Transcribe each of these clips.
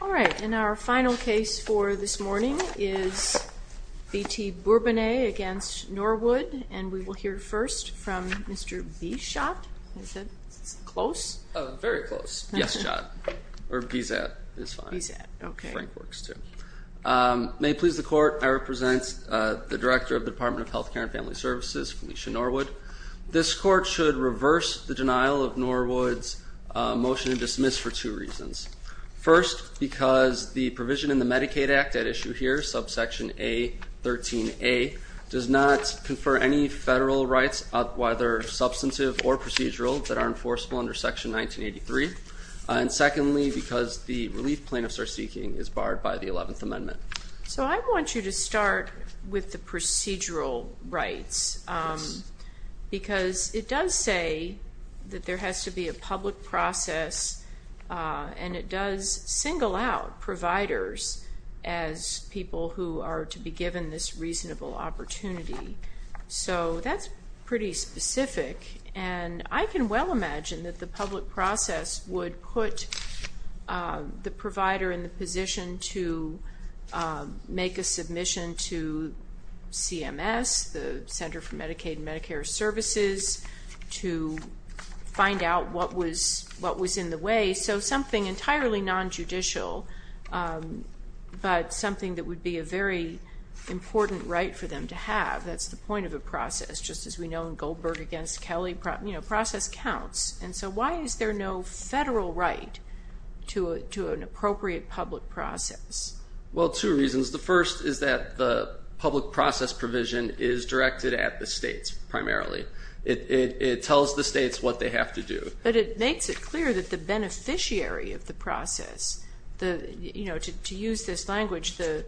All right, and our final case for this morning is B.T. Bourbonnais against Norwood, and we will hear first from Mr. B. Schott. Is that close? Oh, very close. Yes, Schott. Or Bizet is fine. Frank works too. May it please the Court, I represent the Director of the Department of Health Care and Family Services, Felicia Norwood. This Court should reverse the denial of Norwood's motion to dismiss for two reasons. First, because the provision in the Medicaid Act at issue here, subsection A13A, does not confer any federal rights, whether substantive or procedural, that are enforceable under section 1983. And secondly, because the relief plaintiffs are seeking is barred by the 11th Amendment. So I want you to start with the procedural rights, because it does say that there has to be a public process, and it does single out providers as people who are to be given this reasonable opportunity. So that's pretty specific, and I can well imagine that the public process would put the provider in the position to make a submission to CMS, the Center for Medicaid and Medicare Services, to find out what was in the way. So something entirely nonjudicial, but something that would be a very important right for them to have, that's the point of a process, just as we know in Goldberg against Kelly, process counts. And so why is there no federal right to an appropriate public process? Well, two reasons. The first is that the public process provision is directed at the states primarily. It tells the states what they have to do. But it makes it clear that the beneficiary of the process, to use this language, the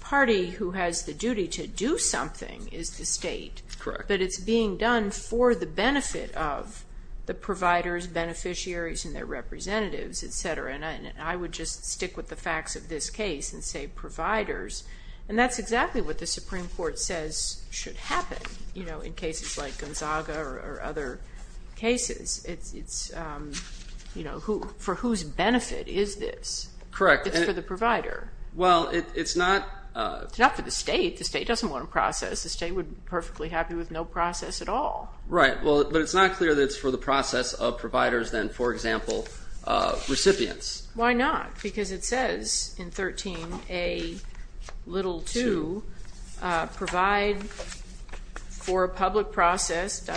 party who has the duty to do something is the state. Correct. But it's being done for the benefit of the providers, beneficiaries, and their representatives, et cetera. And I would just stick with the facts of this case and say providers. And that's exactly what the Supreme Court says should happen in cases like Gonzaga or other cases. It's for whose benefit is this? Correct. It's for the provider. Well, it's not. It's not for the state. The state doesn't want to process. The state would be perfectly happy with no process at all. Right, but it's not clear that it's for the process of providers than, for example, recipients. Why not? Because it says in 13A.2, provide for a public process,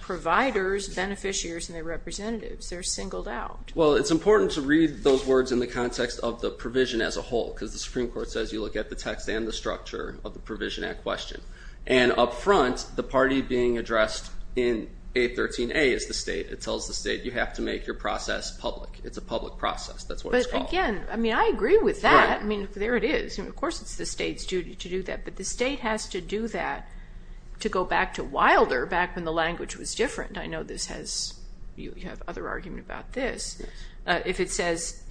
providers, beneficiaries, and their representatives. They're singled out. Well, it's important to read those words in the context of the provision as a whole because the Supreme Court says you look at the text and the structure of the provision at question. And up front, the party being addressed in 813A is the state. It tells the state you have to make your process public. It's a public process. That's what it's called. But, again, I mean, I agree with that. I mean, there it is. Of course, it's the state's duty to do that. But the state has to do that to go back to Wilder back when the language was different. I know this has you have other argument about this. If it says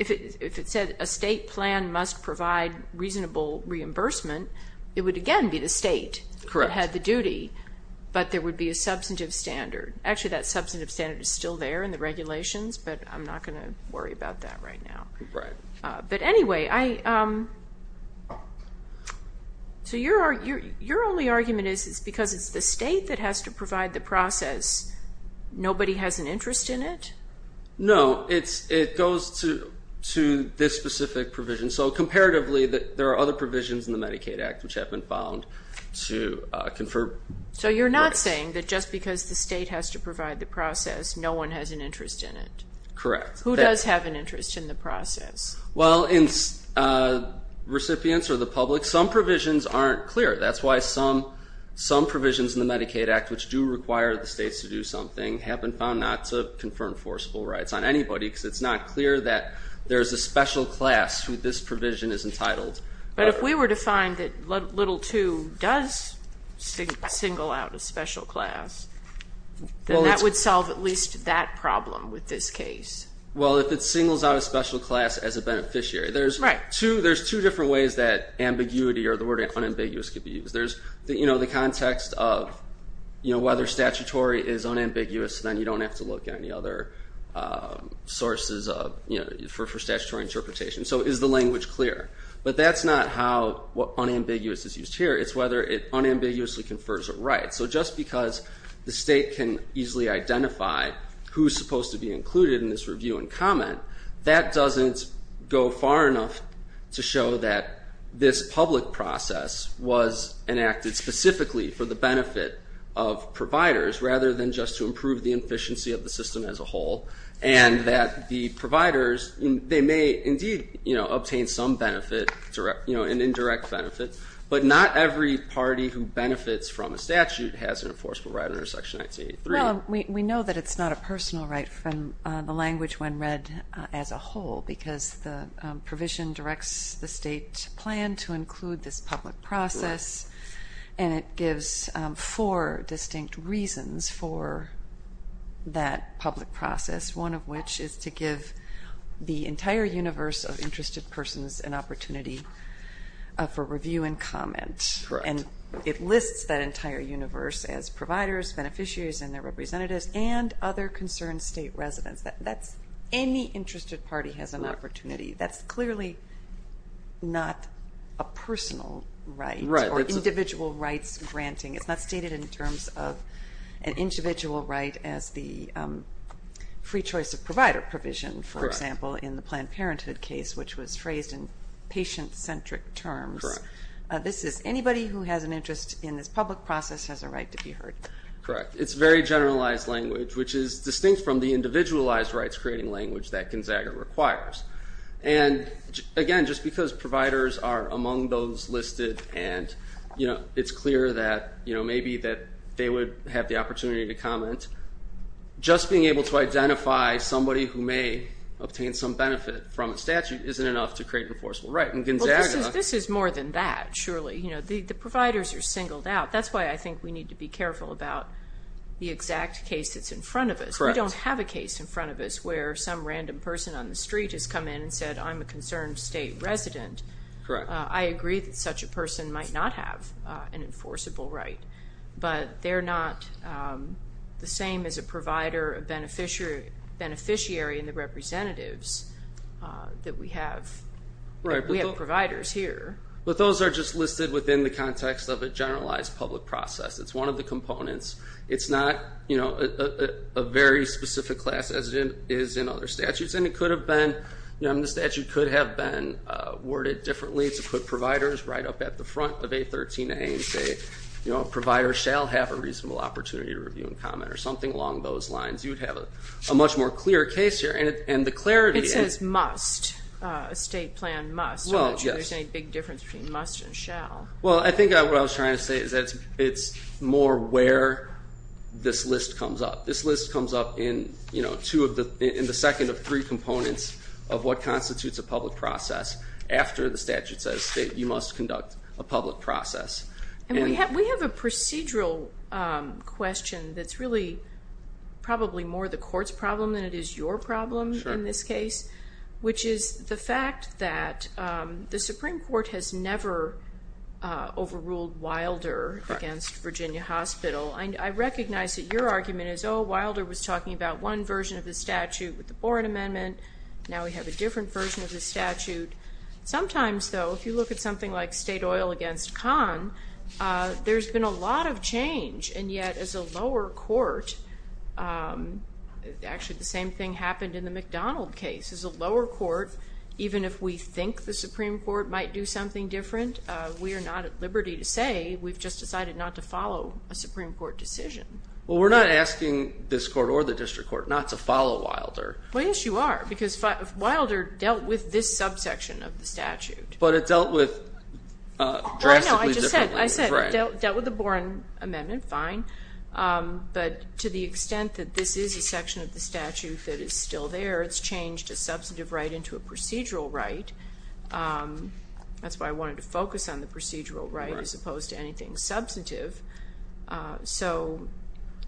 a state plan must provide reasonable reimbursement, it would, again, be the state. Correct. It had the duty, but there would be a substantive standard. Actually, that substantive standard is still there in the regulations, but I'm not going to worry about that right now. Right. But, anyway, your only argument is because it's the state that has to provide the process, nobody has an interest in it? No. It goes to this specific provision. So, comparatively, there are other provisions in the Medicaid Act which have been found to confer. So you're not saying that just because the state has to provide the process, no one has an interest in it? Correct. Who does have an interest in the process? Well, recipients or the public, some provisions aren't clear. That's why some provisions in the Medicaid Act which do require the states to do something have been found not to confer enforceable rights on anybody because it's not clear that there's a special class who this provision is entitled. But if we were to find that little two does single out a special class, then that would solve at least that problem with this case. Well, if it singles out a special class as a beneficiary. Right. There's two different ways that ambiguity or the word unambiguous can be used. There's the context of whether statutory is unambiguous, then you don't have to look at any other sources for statutory interpretation. So is the language clear? But that's not how unambiguous is used here. It's whether it unambiguously confers a right. So just because the state can easily identify who's supposed to be included in this review and comment, that doesn't go far enough to show that this public process was enacted specifically for the benefit of providers rather than just to improve the efficiency of the system as a whole and that the providers, they may indeed obtain some benefit, an indirect benefit, but not every party who benefits from a statute has an enforceable right under Section 1983. Well, we know that it's not a personal right from the language when read as a whole because the provision directs the state plan to include this public process, and it gives four distinct reasons for that public process, one of which is to give the entire universe of interested persons an opportunity for review and comment. Correct. And it lists that entire universe as providers, beneficiaries, and their representatives, and other concerned state residents. Any interested party has an opportunity. That's clearly not a personal right or individual rights granting. It's not stated in terms of an individual right as the free choice of provider provision, for example, in the Planned Parenthood case, which was phrased in patient-centric terms. Correct. This is anybody who has an interest in this public process has a right to be heard. Correct. It's very generalized language, which is distinct from the individualized rights-creating language that Gonzaga requires. And, again, just because providers are among those listed and it's clear that maybe they would have the opportunity to comment, just being able to identify somebody who may obtain some benefit from a statute isn't enough to create an enforceable right. Well, this is more than that, surely. The providers are singled out. That's why I think we need to be careful about the exact case that's in front of us. Correct. We don't have a case in front of us where some random person on the street has come in and said, I'm a concerned state resident. Correct. I agree that such a person might not have an enforceable right, but they're not the same as a provider, a beneficiary, and the representatives that we have. We have providers here. But those are just listed within the context of a generalized public process. It's one of the components. It's not a very specific class as it is in other statutes, and the statute could have been worded differently to put providers right up at the front of A13a and say a provider shall have a reasonable opportunity to review and comment or something along those lines. You would have a much more clear case here. It says must, a state plan must. There's no big difference between must and shall. I think what I was trying to say is that it's more where this list comes up. This list comes up in the second of three components of what constitutes a public process after the statute says you must conduct a public process. We have a procedural question that's really probably more the court's problem than it is your problem in this case, which is the fact that the Supreme Court has never overruled Wilder against Virginia Hospital. I recognize that your argument is, oh, Wilder was talking about one version of the statute with the Boren Amendment. Now we have a different version of the statute. Sometimes, though, if you look at something like state oil against Khan, there's been a lot of change, and yet as a lower court, actually the same thing happened in the McDonald case. As a lower court, even if we think the Supreme Court might do something different, we are not at liberty to say. We've just decided not to follow a Supreme Court decision. Well, we're not asking this court or the district court not to follow Wilder. Well, yes, you are, because Wilder dealt with this subsection of the statute. But it dealt with drastically differently. I know, I just said it dealt with the Boren Amendment, fine. But to the extent that this is a section of the statute that is still there, it's changed a substantive right into a procedural right. That's why I wanted to focus on the procedural right as opposed to anything substantive. So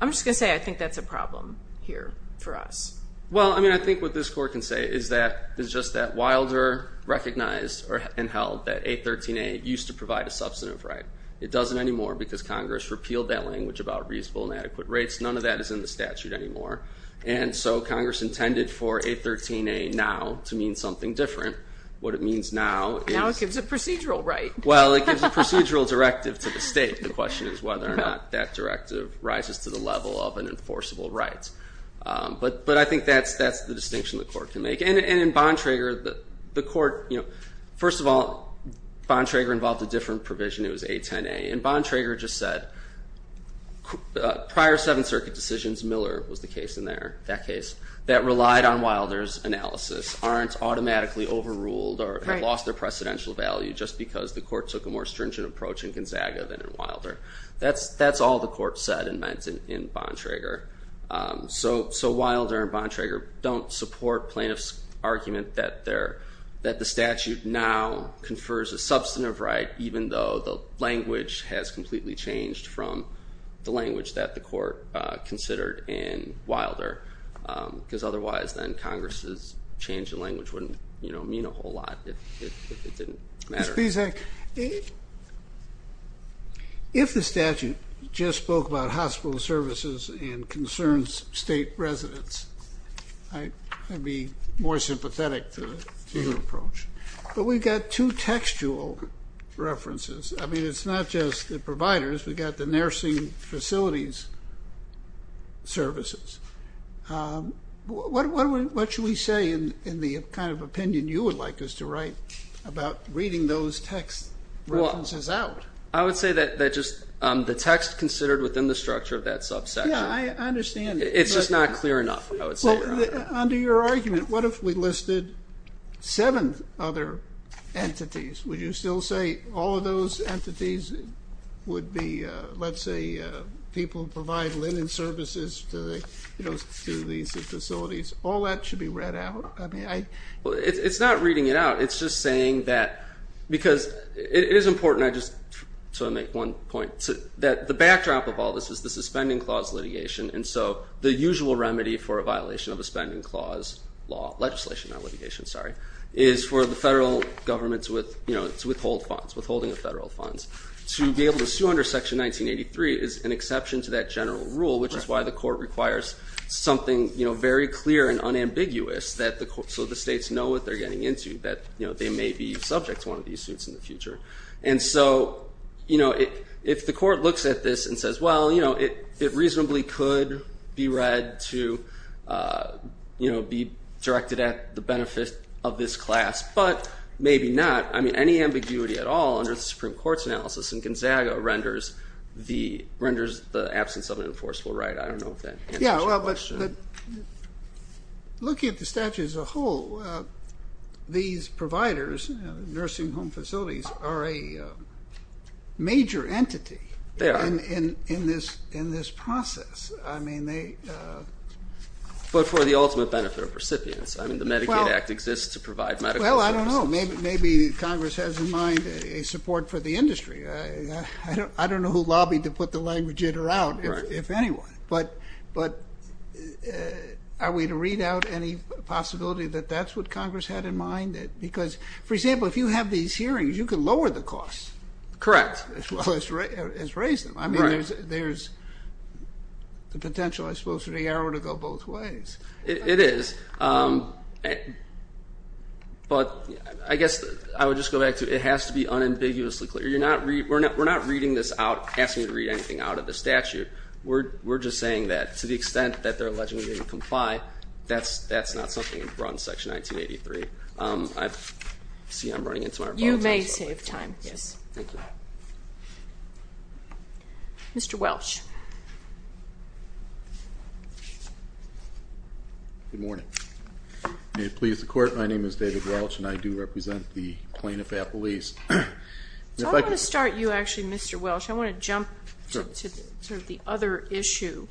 I'm just going to say I think that's a problem here for us. Well, I mean, I think what this court can say is just that Wilder recognized and held that 813A used to provide a substantive right. It doesn't anymore because Congress repealed that language about reasonable and adequate rates. None of that is in the statute anymore. And so Congress intended for 813A now to mean something different. What it means now is. Now it gives a procedural right. Well, it gives a procedural directive to the state. The question is whether or not that directive rises to the level of an enforceable right. But I think that's the distinction the court can make. And in Bontrager, the court, you know, first of all, Bontrager involved a different provision. It was 810A. And Bontrager just said prior Seventh Circuit decisions, Miller was the case in there, that case, that relied on Wilder's analysis aren't automatically overruled or have lost their precedential value just because the court took a more stringent approach in Gonzaga than in Wilder. That's all the court said and meant in Bontrager. So Wilder and Bontrager don't support plaintiffs' argument that the statute now confers a substantive right even though the language has completely changed from the language that the court considered in Wilder. Because otherwise then Congress's change in language wouldn't, you know, mean a whole lot if it didn't matter. Mr. Pizak, if the statute just spoke about hospital services and concerns state residents, I'd be more sympathetic to your approach. But we've got two textual references. I mean, it's not just the providers. We've got the nursing facilities services. What should we say in the kind of opinion you would like us to write about reading those text references out? I would say that just the text considered within the structure of that subsection. Yeah, I understand. It's just not clear enough, I would say. Under your argument, what if we listed seven other entities? Would you still say all of those entities would be, let's say, people who provide linen services to these facilities? All that should be read out. It's not reading it out. It's just saying that because it is important, I just want to make one point, that the backdrop of all this is the suspending clause litigation. And so the usual remedy for a violation of a spending clause legislation, not litigation, sorry, is for the federal government to withhold funds, withholding of federal funds. To be able to sue under Section 1983 is an exception to that general rule, which is why the court requires something very clear and unambiguous so the states know what they're getting into, that they may be subject to one of these suits in the future. And so if the court looks at this and says, well, it reasonably could be read to be directed at the benefit of this class, but maybe not. I mean, any ambiguity at all under the Supreme Court's analysis in Gonzaga renders the absence of an enforceable right. But looking at the statute as a whole, these providers, nursing home facilities, are a major entity in this process. But for the ultimate benefit of recipients. I mean, the Medicaid Act exists to provide medical services. Well, I don't know. Maybe Congress has in mind a support for the industry. I don't know who lobbied to put the language in or out, if anyone. But are we to read out any possibility that that's what Congress had in mind? Because, for example, if you have these hearings, you can lower the costs. Correct. As well as raise them. I mean, there's the potential, I suppose, for the arrow to go both ways. It is. But I guess I would just go back to it has to be unambiguously clear. We're not reading this out, asking you to read anything out of the statute. We're just saying that to the extent that they're alleging we didn't comply, that's not something that's brought in Section 1983. I see I'm running into my rebuttal. You may save time. Yes. Thank you. Mr. Welch. Good morning. May it please the Court, my name is David Welch, and I do represent the plaintiff at Belize. I want to start you, actually, Mr. Welch. I want to jump to sort of the other issue,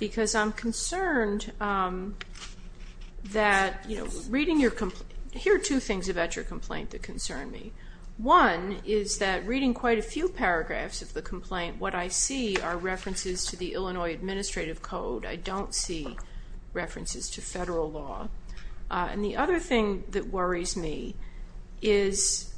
because I'm concerned that, you know, reading your complaint, here are two things about your complaint that concern me. One is that reading quite a few paragraphs of the complaint, what I see are references to the Illinois Administrative Code. I don't see references to federal law. And the other thing that worries me is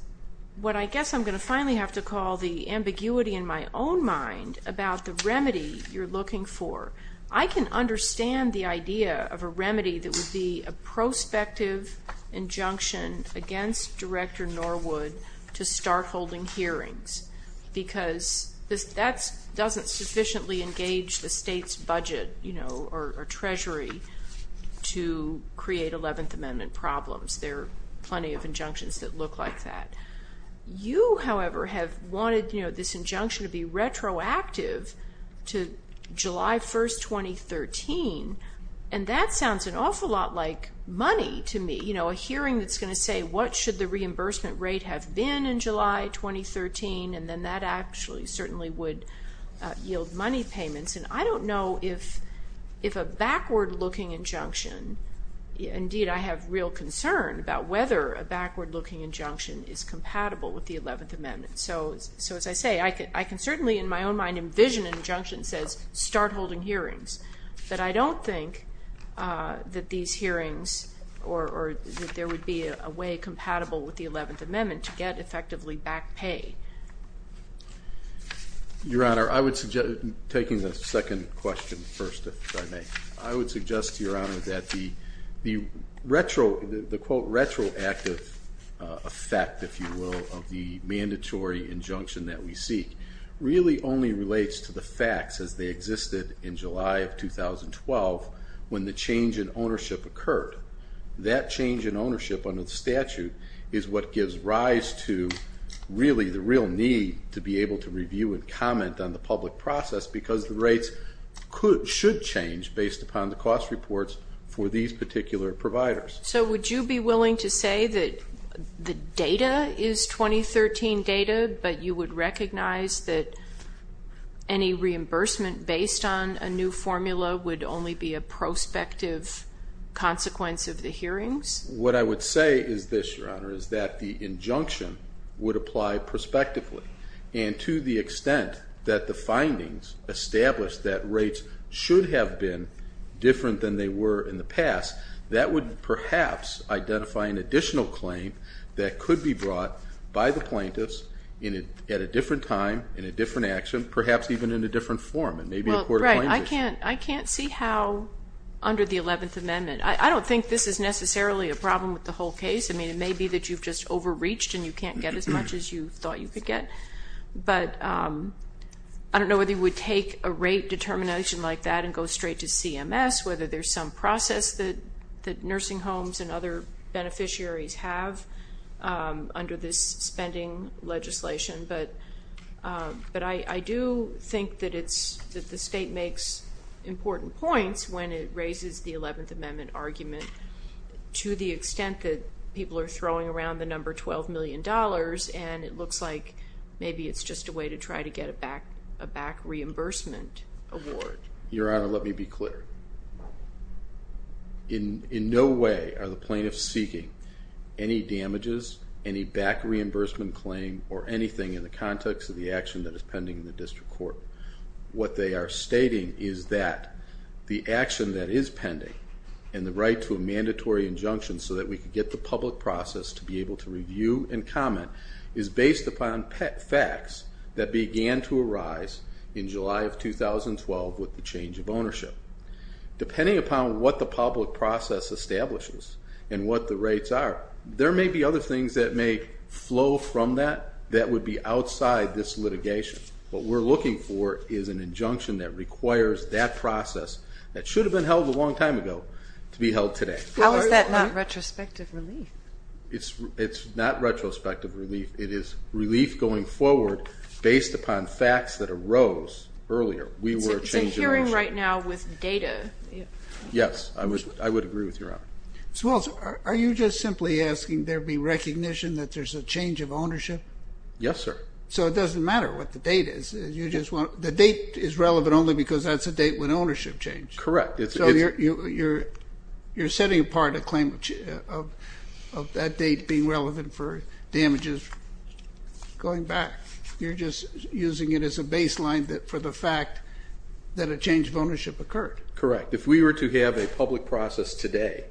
what I guess I'm going to finally have to call the ambiguity in my own mind about the remedy you're looking for. I can understand the idea of a remedy that would be a prospective injunction against Director Norwood to start holding hearings, because that doesn't sufficiently engage the state's budget, you know, or treasury to create Eleventh Amendment problems. There are plenty of injunctions that look like that. You, however, have wanted, you know, this injunction to be retroactive to July 1, 2013, and that sounds an awful lot like money to me, you know, a hearing that's going to say what should the reimbursement rate have been in July 2013, and then that actually certainly would yield money payments. And I don't know if a backward-looking injunction, indeed I have real concern about whether a backward-looking injunction is compatible with the Eleventh Amendment. So as I say, I can certainly in my own mind envision an injunction that says start holding hearings, but I don't think that these hearings or that there would be a way compatible with the Eleventh Amendment to get effectively back pay. Your Honor, I would suggest, taking the second question first, if I may, I would suggest to Your Honor that the retroactive effect, if you will, of the mandatory injunction that we seek really only relates to the facts as they existed in July of 2012 when the change in ownership occurred. That change in ownership under the statute is what gives rise to really the real need to be able to review and comment on the public process because the rates should change based upon the cost reports for these particular providers. So would you be willing to say that the data is 2013 data, but you would recognize that any reimbursement based on a new formula would only be a prospective consequence of the hearings? What I would say is this, Your Honor, is that the injunction would apply prospectively, and to the extent that the findings establish that rates should have been different than they were in the past, that would perhaps identify an additional claim that could be brought by the plaintiffs at a different time, in a different action, perhaps even in a different form. I can't see how under the Eleventh Amendment. I don't think this is necessarily a problem with the whole case. I mean, it may be that you've just overreached and you can't get as much as you thought you could get. But I don't know whether you would take a rate determination like that and go straight to CMS, whether there's some process that nursing homes and other beneficiaries have under this spending legislation. But I do think that the state makes important points when it raises the Eleventh Amendment argument to the extent that people are throwing around the number $12 million and it looks like maybe it's just a way to try to get a back reimbursement award. Your Honor, let me be clear. In no way are the plaintiffs seeking any damages, any back reimbursement claim, or anything in the context of the action that is pending in the district court. What they are stating is that the action that is pending and the right to a mandatory injunction so that we can get the public process to be able to review and comment is based upon facts that began to arise in July of 2012 with the change of ownership. Depending upon what the public process establishes and what the rates are, there may be other things that may flow from that that would be outside this litigation. What we're looking for is an injunction that requires that process that should have been held a long time ago to be held today. How is that not retrospective relief? It's not retrospective relief. It is relief going forward based upon facts that arose earlier. We were a change in ownership. It's a hearing right now with data. Yes, I would agree with Your Honor. Ms. Walz, are you just simply asking there be recognition that there's a change of ownership? Yes, sir. So it doesn't matter what the date is. The date is relevant only because that's a date when ownership changed. Correct. So you're setting apart a claim of that date being relevant for damages going back. You're just using it as a baseline for the fact that a change of ownership occurred. Correct. If we were to have a public process today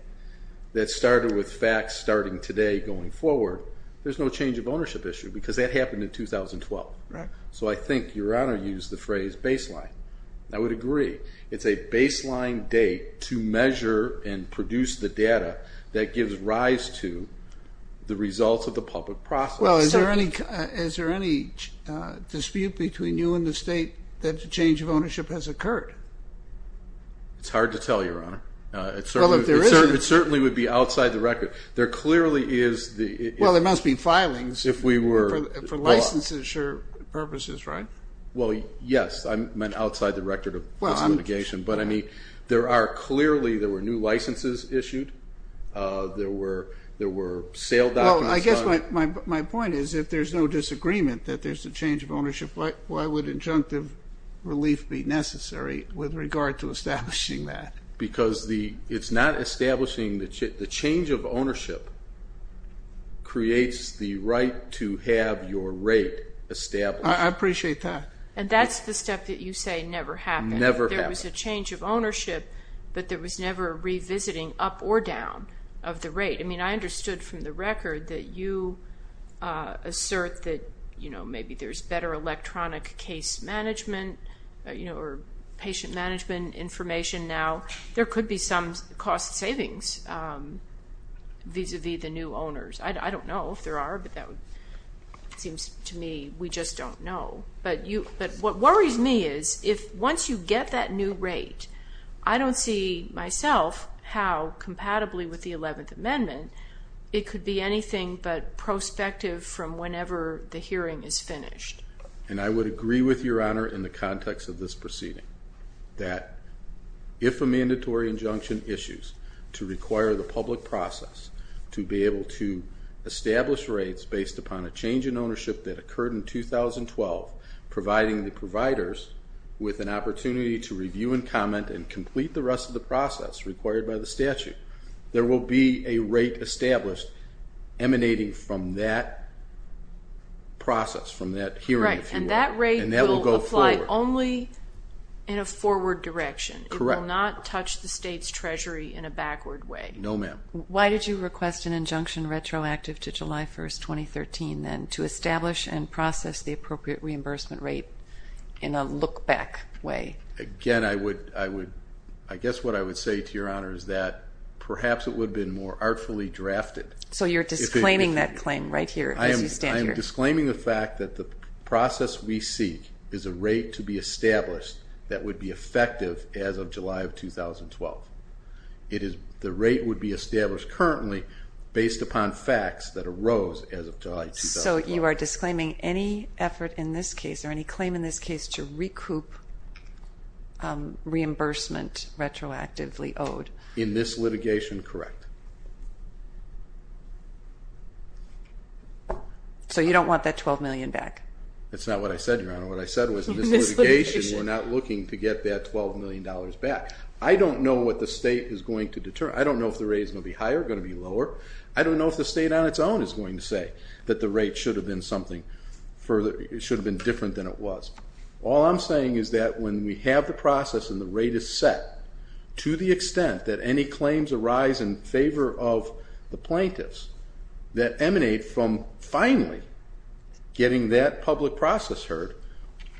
that started with facts starting today going forward, there's no change of ownership issue because that happened in 2012. Right. So I think Your Honor used the phrase baseline. I would agree. It's a baseline date to measure and produce the data that gives rise to the results of the public process. Well, is there any dispute between you and the state that a change of ownership has occurred? It's hard to tell, Your Honor. Well, if there isn't. It certainly would be outside the record. There clearly is. Well, there must be filings for licensure purposes, right? Well, yes. I meant outside the record of this litigation. But, I mean, there are clearly there were new licenses issued. There were sale documents done. Well, I guess my point is if there's no disagreement that there's a change of ownership, why would injunctive relief be necessary with regard to establishing that? Because it's not establishing the change of ownership creates the right to have your rate established. I appreciate that. And that's the step that you say never happened. Never happened. There was a change of ownership, but there was never revisiting up or down of the rate. I mean, I understood from the record that you assert that, you know, maybe there's better electronic case management, you know, or patient management information now. There could be some cost savings vis-a-vis the new owners. I don't know if there are, but that seems to me we just don't know. But what worries me is if once you get that new rate, I don't see myself how compatibly with the 11th Amendment it could be anything but prospective from whenever the hearing is finished. And I would agree with Your Honor in the context of this proceeding that if a mandatory injunction issues to require the public process to be able to establish rates based upon a change in ownership that occurred in 2012, providing the providers with an opportunity to review and comment and complete the rest of the process required by the statute, there will be a rate established emanating from that process, from that hearing, if you will. Right, and that rate will apply only in a forward direction. Correct. It will not touch the state's treasury in a backward way. No, ma'am. Why did you request an injunction retroactive to July 1, 2013, then, to establish and process the appropriate reimbursement rate in a look-back way? Again, I guess what I would say to Your Honor is that perhaps it would have been more artfully drafted. So you're disclaiming that claim right here as you stand here. I am disclaiming the fact that the process we seek is a rate to be established that would be effective as of July of 2012. The rate would be established currently based upon facts that arose as of July 2012. So you are disclaiming any effort in this case, or any claim in this case, to recoup reimbursement retroactively owed. In this litigation, correct. So you don't want that $12 million back? That's not what I said, Your Honor. What I said was in this litigation we're not looking to get that $12 million back. I don't know what the state is going to determine. I don't know if the rate is going to be higher or going to be lower. I don't know if the state on its own is going to say that the rate should have been different than it was. All I'm saying is that when we have the process and the rate is set, to the extent that any claims arise in favor of the plaintiffs that emanate from finally getting that public process heard,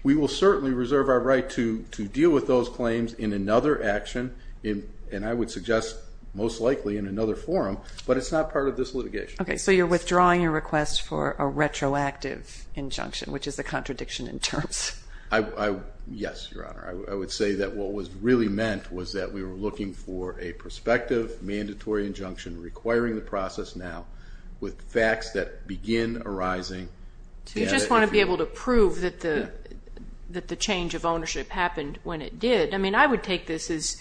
we will certainly reserve our right to deal with those claims in another action, and I would suggest most likely in another forum, but it's not part of this litigation. Okay, so you're withdrawing your request for a retroactive injunction, which is a contradiction in terms. Yes, Your Honor. I would say that what was really meant was that we were looking for a prospective, mandatory injunction requiring the process now with facts that begin arising. You just want to be able to prove that the change of ownership happened when it did. I mean, I would take this as,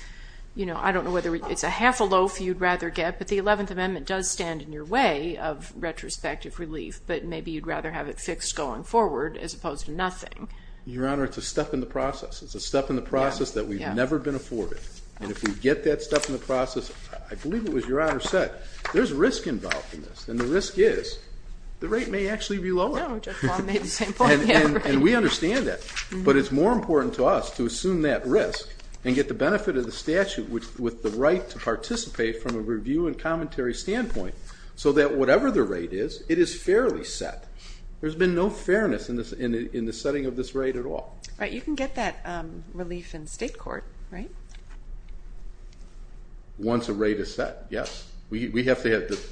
you know, I don't know whether it's a half a loaf you'd rather get, but the Eleventh Amendment does stand in your way of retrospective relief, but maybe you'd rather have it fixed going forward as opposed to nothing. Your Honor, it's a step in the process. It's a step in the process that we've never been afforded, and if we get that step in the process, I believe it was Your Honor said there's risk involved in this, and the risk is the rate may actually be lower. No, Judge Baum made the same point. And we understand that, but it's more important to us to assume that risk and get the benefit of the statute with the right to participate from a review and commentary standpoint so that whatever the rate is, it is fairly set. There's been no fairness in the setting of this rate at all. Right. You can get that relief in state court, right? Once a rate is set, yes. We have to have the ----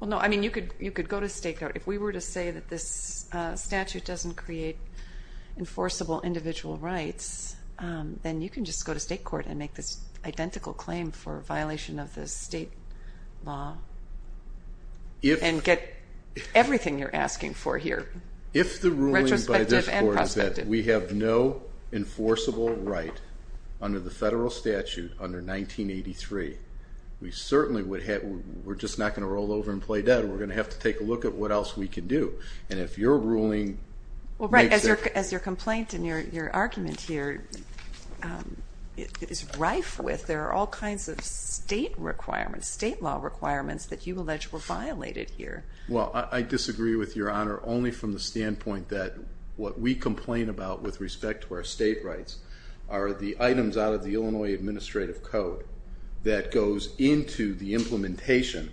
Well, no, I mean you could go to state court. If we were to say that this statute doesn't create enforceable individual rights, then you can just go to state court and make this identical claim for a violation of the state law and get everything you're asking for here, retrospective and prospective. If the ruling by this Court is that we have no enforceable right under the federal statute under 1983, we certainly would have to ---- we're just not going to roll over and play dead. We're going to have to take a look at what else we can do. And if your ruling makes it ---- Well, right, as your complaint and your argument here is rife with, there are all kinds of state requirements, state law requirements that you allege were violated here. Well, I disagree with Your Honor only from the standpoint that what we complain about with respect to our state rights are the items out of the Illinois Administrative Code that goes into the implementation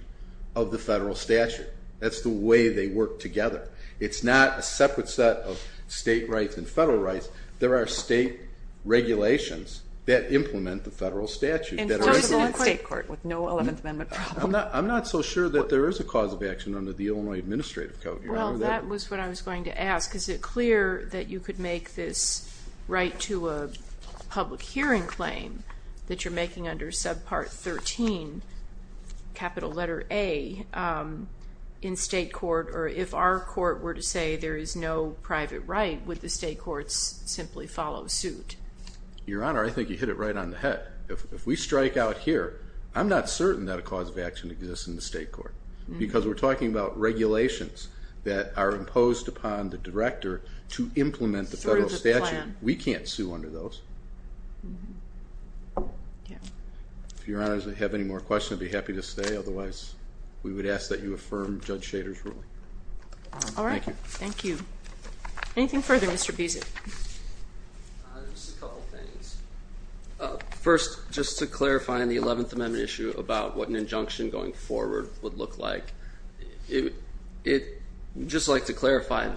of the federal statute. That's the way they work together. It's not a separate set of state rights and federal rights. There are state regulations that implement the federal statute. Enforceable in state court with no Eleventh Amendment problem. I'm not so sure that there is a cause of action under the Illinois Administrative Code. Your Honor, that ---- Well, that was what I was going to ask. Is it clear that you could make this right to a public hearing claim that you're making under Subpart 13, capital letter A, in state court, or if our court were to say there is no private right, would the state courts simply follow suit? Your Honor, I think you hit it right on the head. If we strike out here, I'm not certain that a cause of action exists in the state court because we're talking about regulations that are imposed upon the director to implement the federal statute. We can't sue under those. If Your Honor has any more questions, I'd be happy to stay. Otherwise, we would ask that you affirm Judge Shader's ruling. All right. Thank you. Thank you. Anything further, Mr. Beasley? Just a couple of things. First, just to clarify on the 11th Amendment issue about what an injunction going forward would look like, I'd just like to clarify,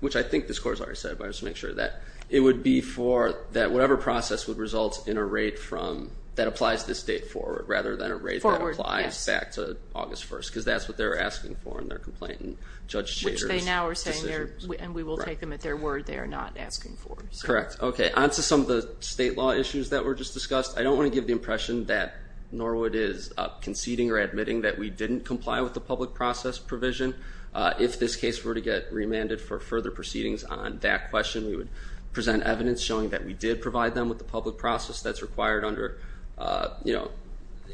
which I think this Court has already said, but I just want to make sure of that, it would be for that whatever process would result in a rate from, that applies this date forward rather than a rate that applies back to August 1st because that's what they're asking for in their complaint and Judge Shader's decision. Which they now are saying, and we will take them at their word, they are not asking for. Correct. Okay. On to some of the state law issues that were just discussed. I don't want to give the impression that Norwood is conceding or admitting that we didn't comply with the public process provision. If this case were to get remanded for further proceedings on that question, we would present evidence showing that we did provide them with the public process that's required under, you know,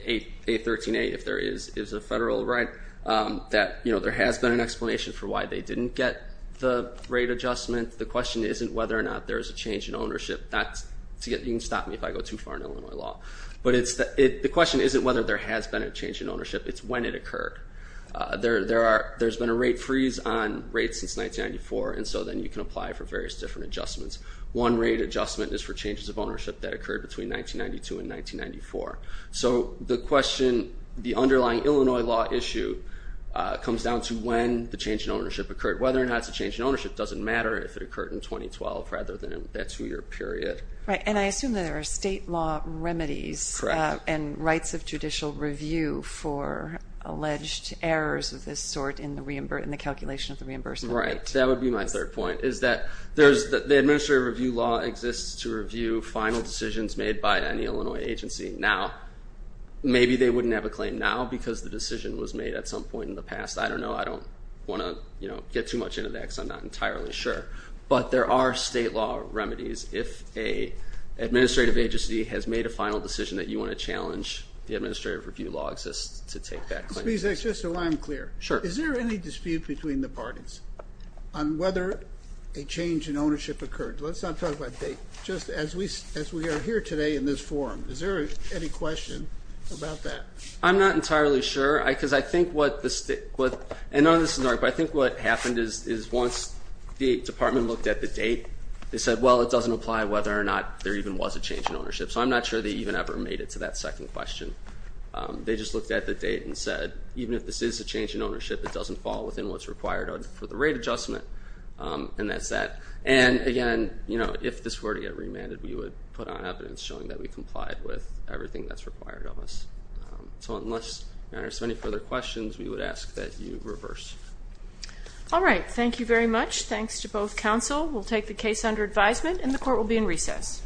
813A if there is a federal right, that, you know, there has been an explanation for why they didn't get the rate adjustment. The question isn't whether or not there is a change in ownership. You can stop me if I go too far in Illinois law. But the question isn't whether there has been a change in ownership, it's when it occurred. There's been a rate freeze on rates since 1994, and so then you can apply for various different adjustments. One rate adjustment is for changes of ownership that occurred between 1992 and 1994. So the question, the underlying Illinois law issue, comes down to when the change in ownership occurred. Whether or not it's a change in ownership doesn't matter if it occurred in 2012 rather than that two-year period. Right, and I assume that there are state law remedies and rights of judicial review for alleged errors of this sort in the calculation of the reimbursement rate. Right, that would be my third point, is that the administrative review law exists to review final decisions made by any Illinois agency now. Maybe they wouldn't have a claim now because the decision was made at some point in the past. I don't know. I don't want to get too much into that because I'm not entirely sure. But there are state law remedies if an administrative agency has made a final decision that you want to challenge the administrative review law exists to take back claims. Mr. Bieseck, just so I'm clear. Sure. Is there any dispute between the parties on whether a change in ownership occurred? Let's not talk about date. Just as we are here today in this forum, is there any question about that? I'm not entirely sure because I think what the state, and none of this is an argument, but I think what happened is once the department looked at the date, they said, well, it doesn't apply whether or not there even was a change in ownership. So I'm not sure they even ever made it to that second question. They just looked at the date and said, even if this is a change in ownership, it doesn't fall within what's required for the rate adjustment, and that's that. And, again, if this were to get remanded, we would put on evidence showing that we complied with everything that's required of us. So unless there are any further questions, we would ask that you reverse. All right. Thank you very much. Thanks to both counsel. We'll take the case under advisement, and the court will be in recess. Thank you.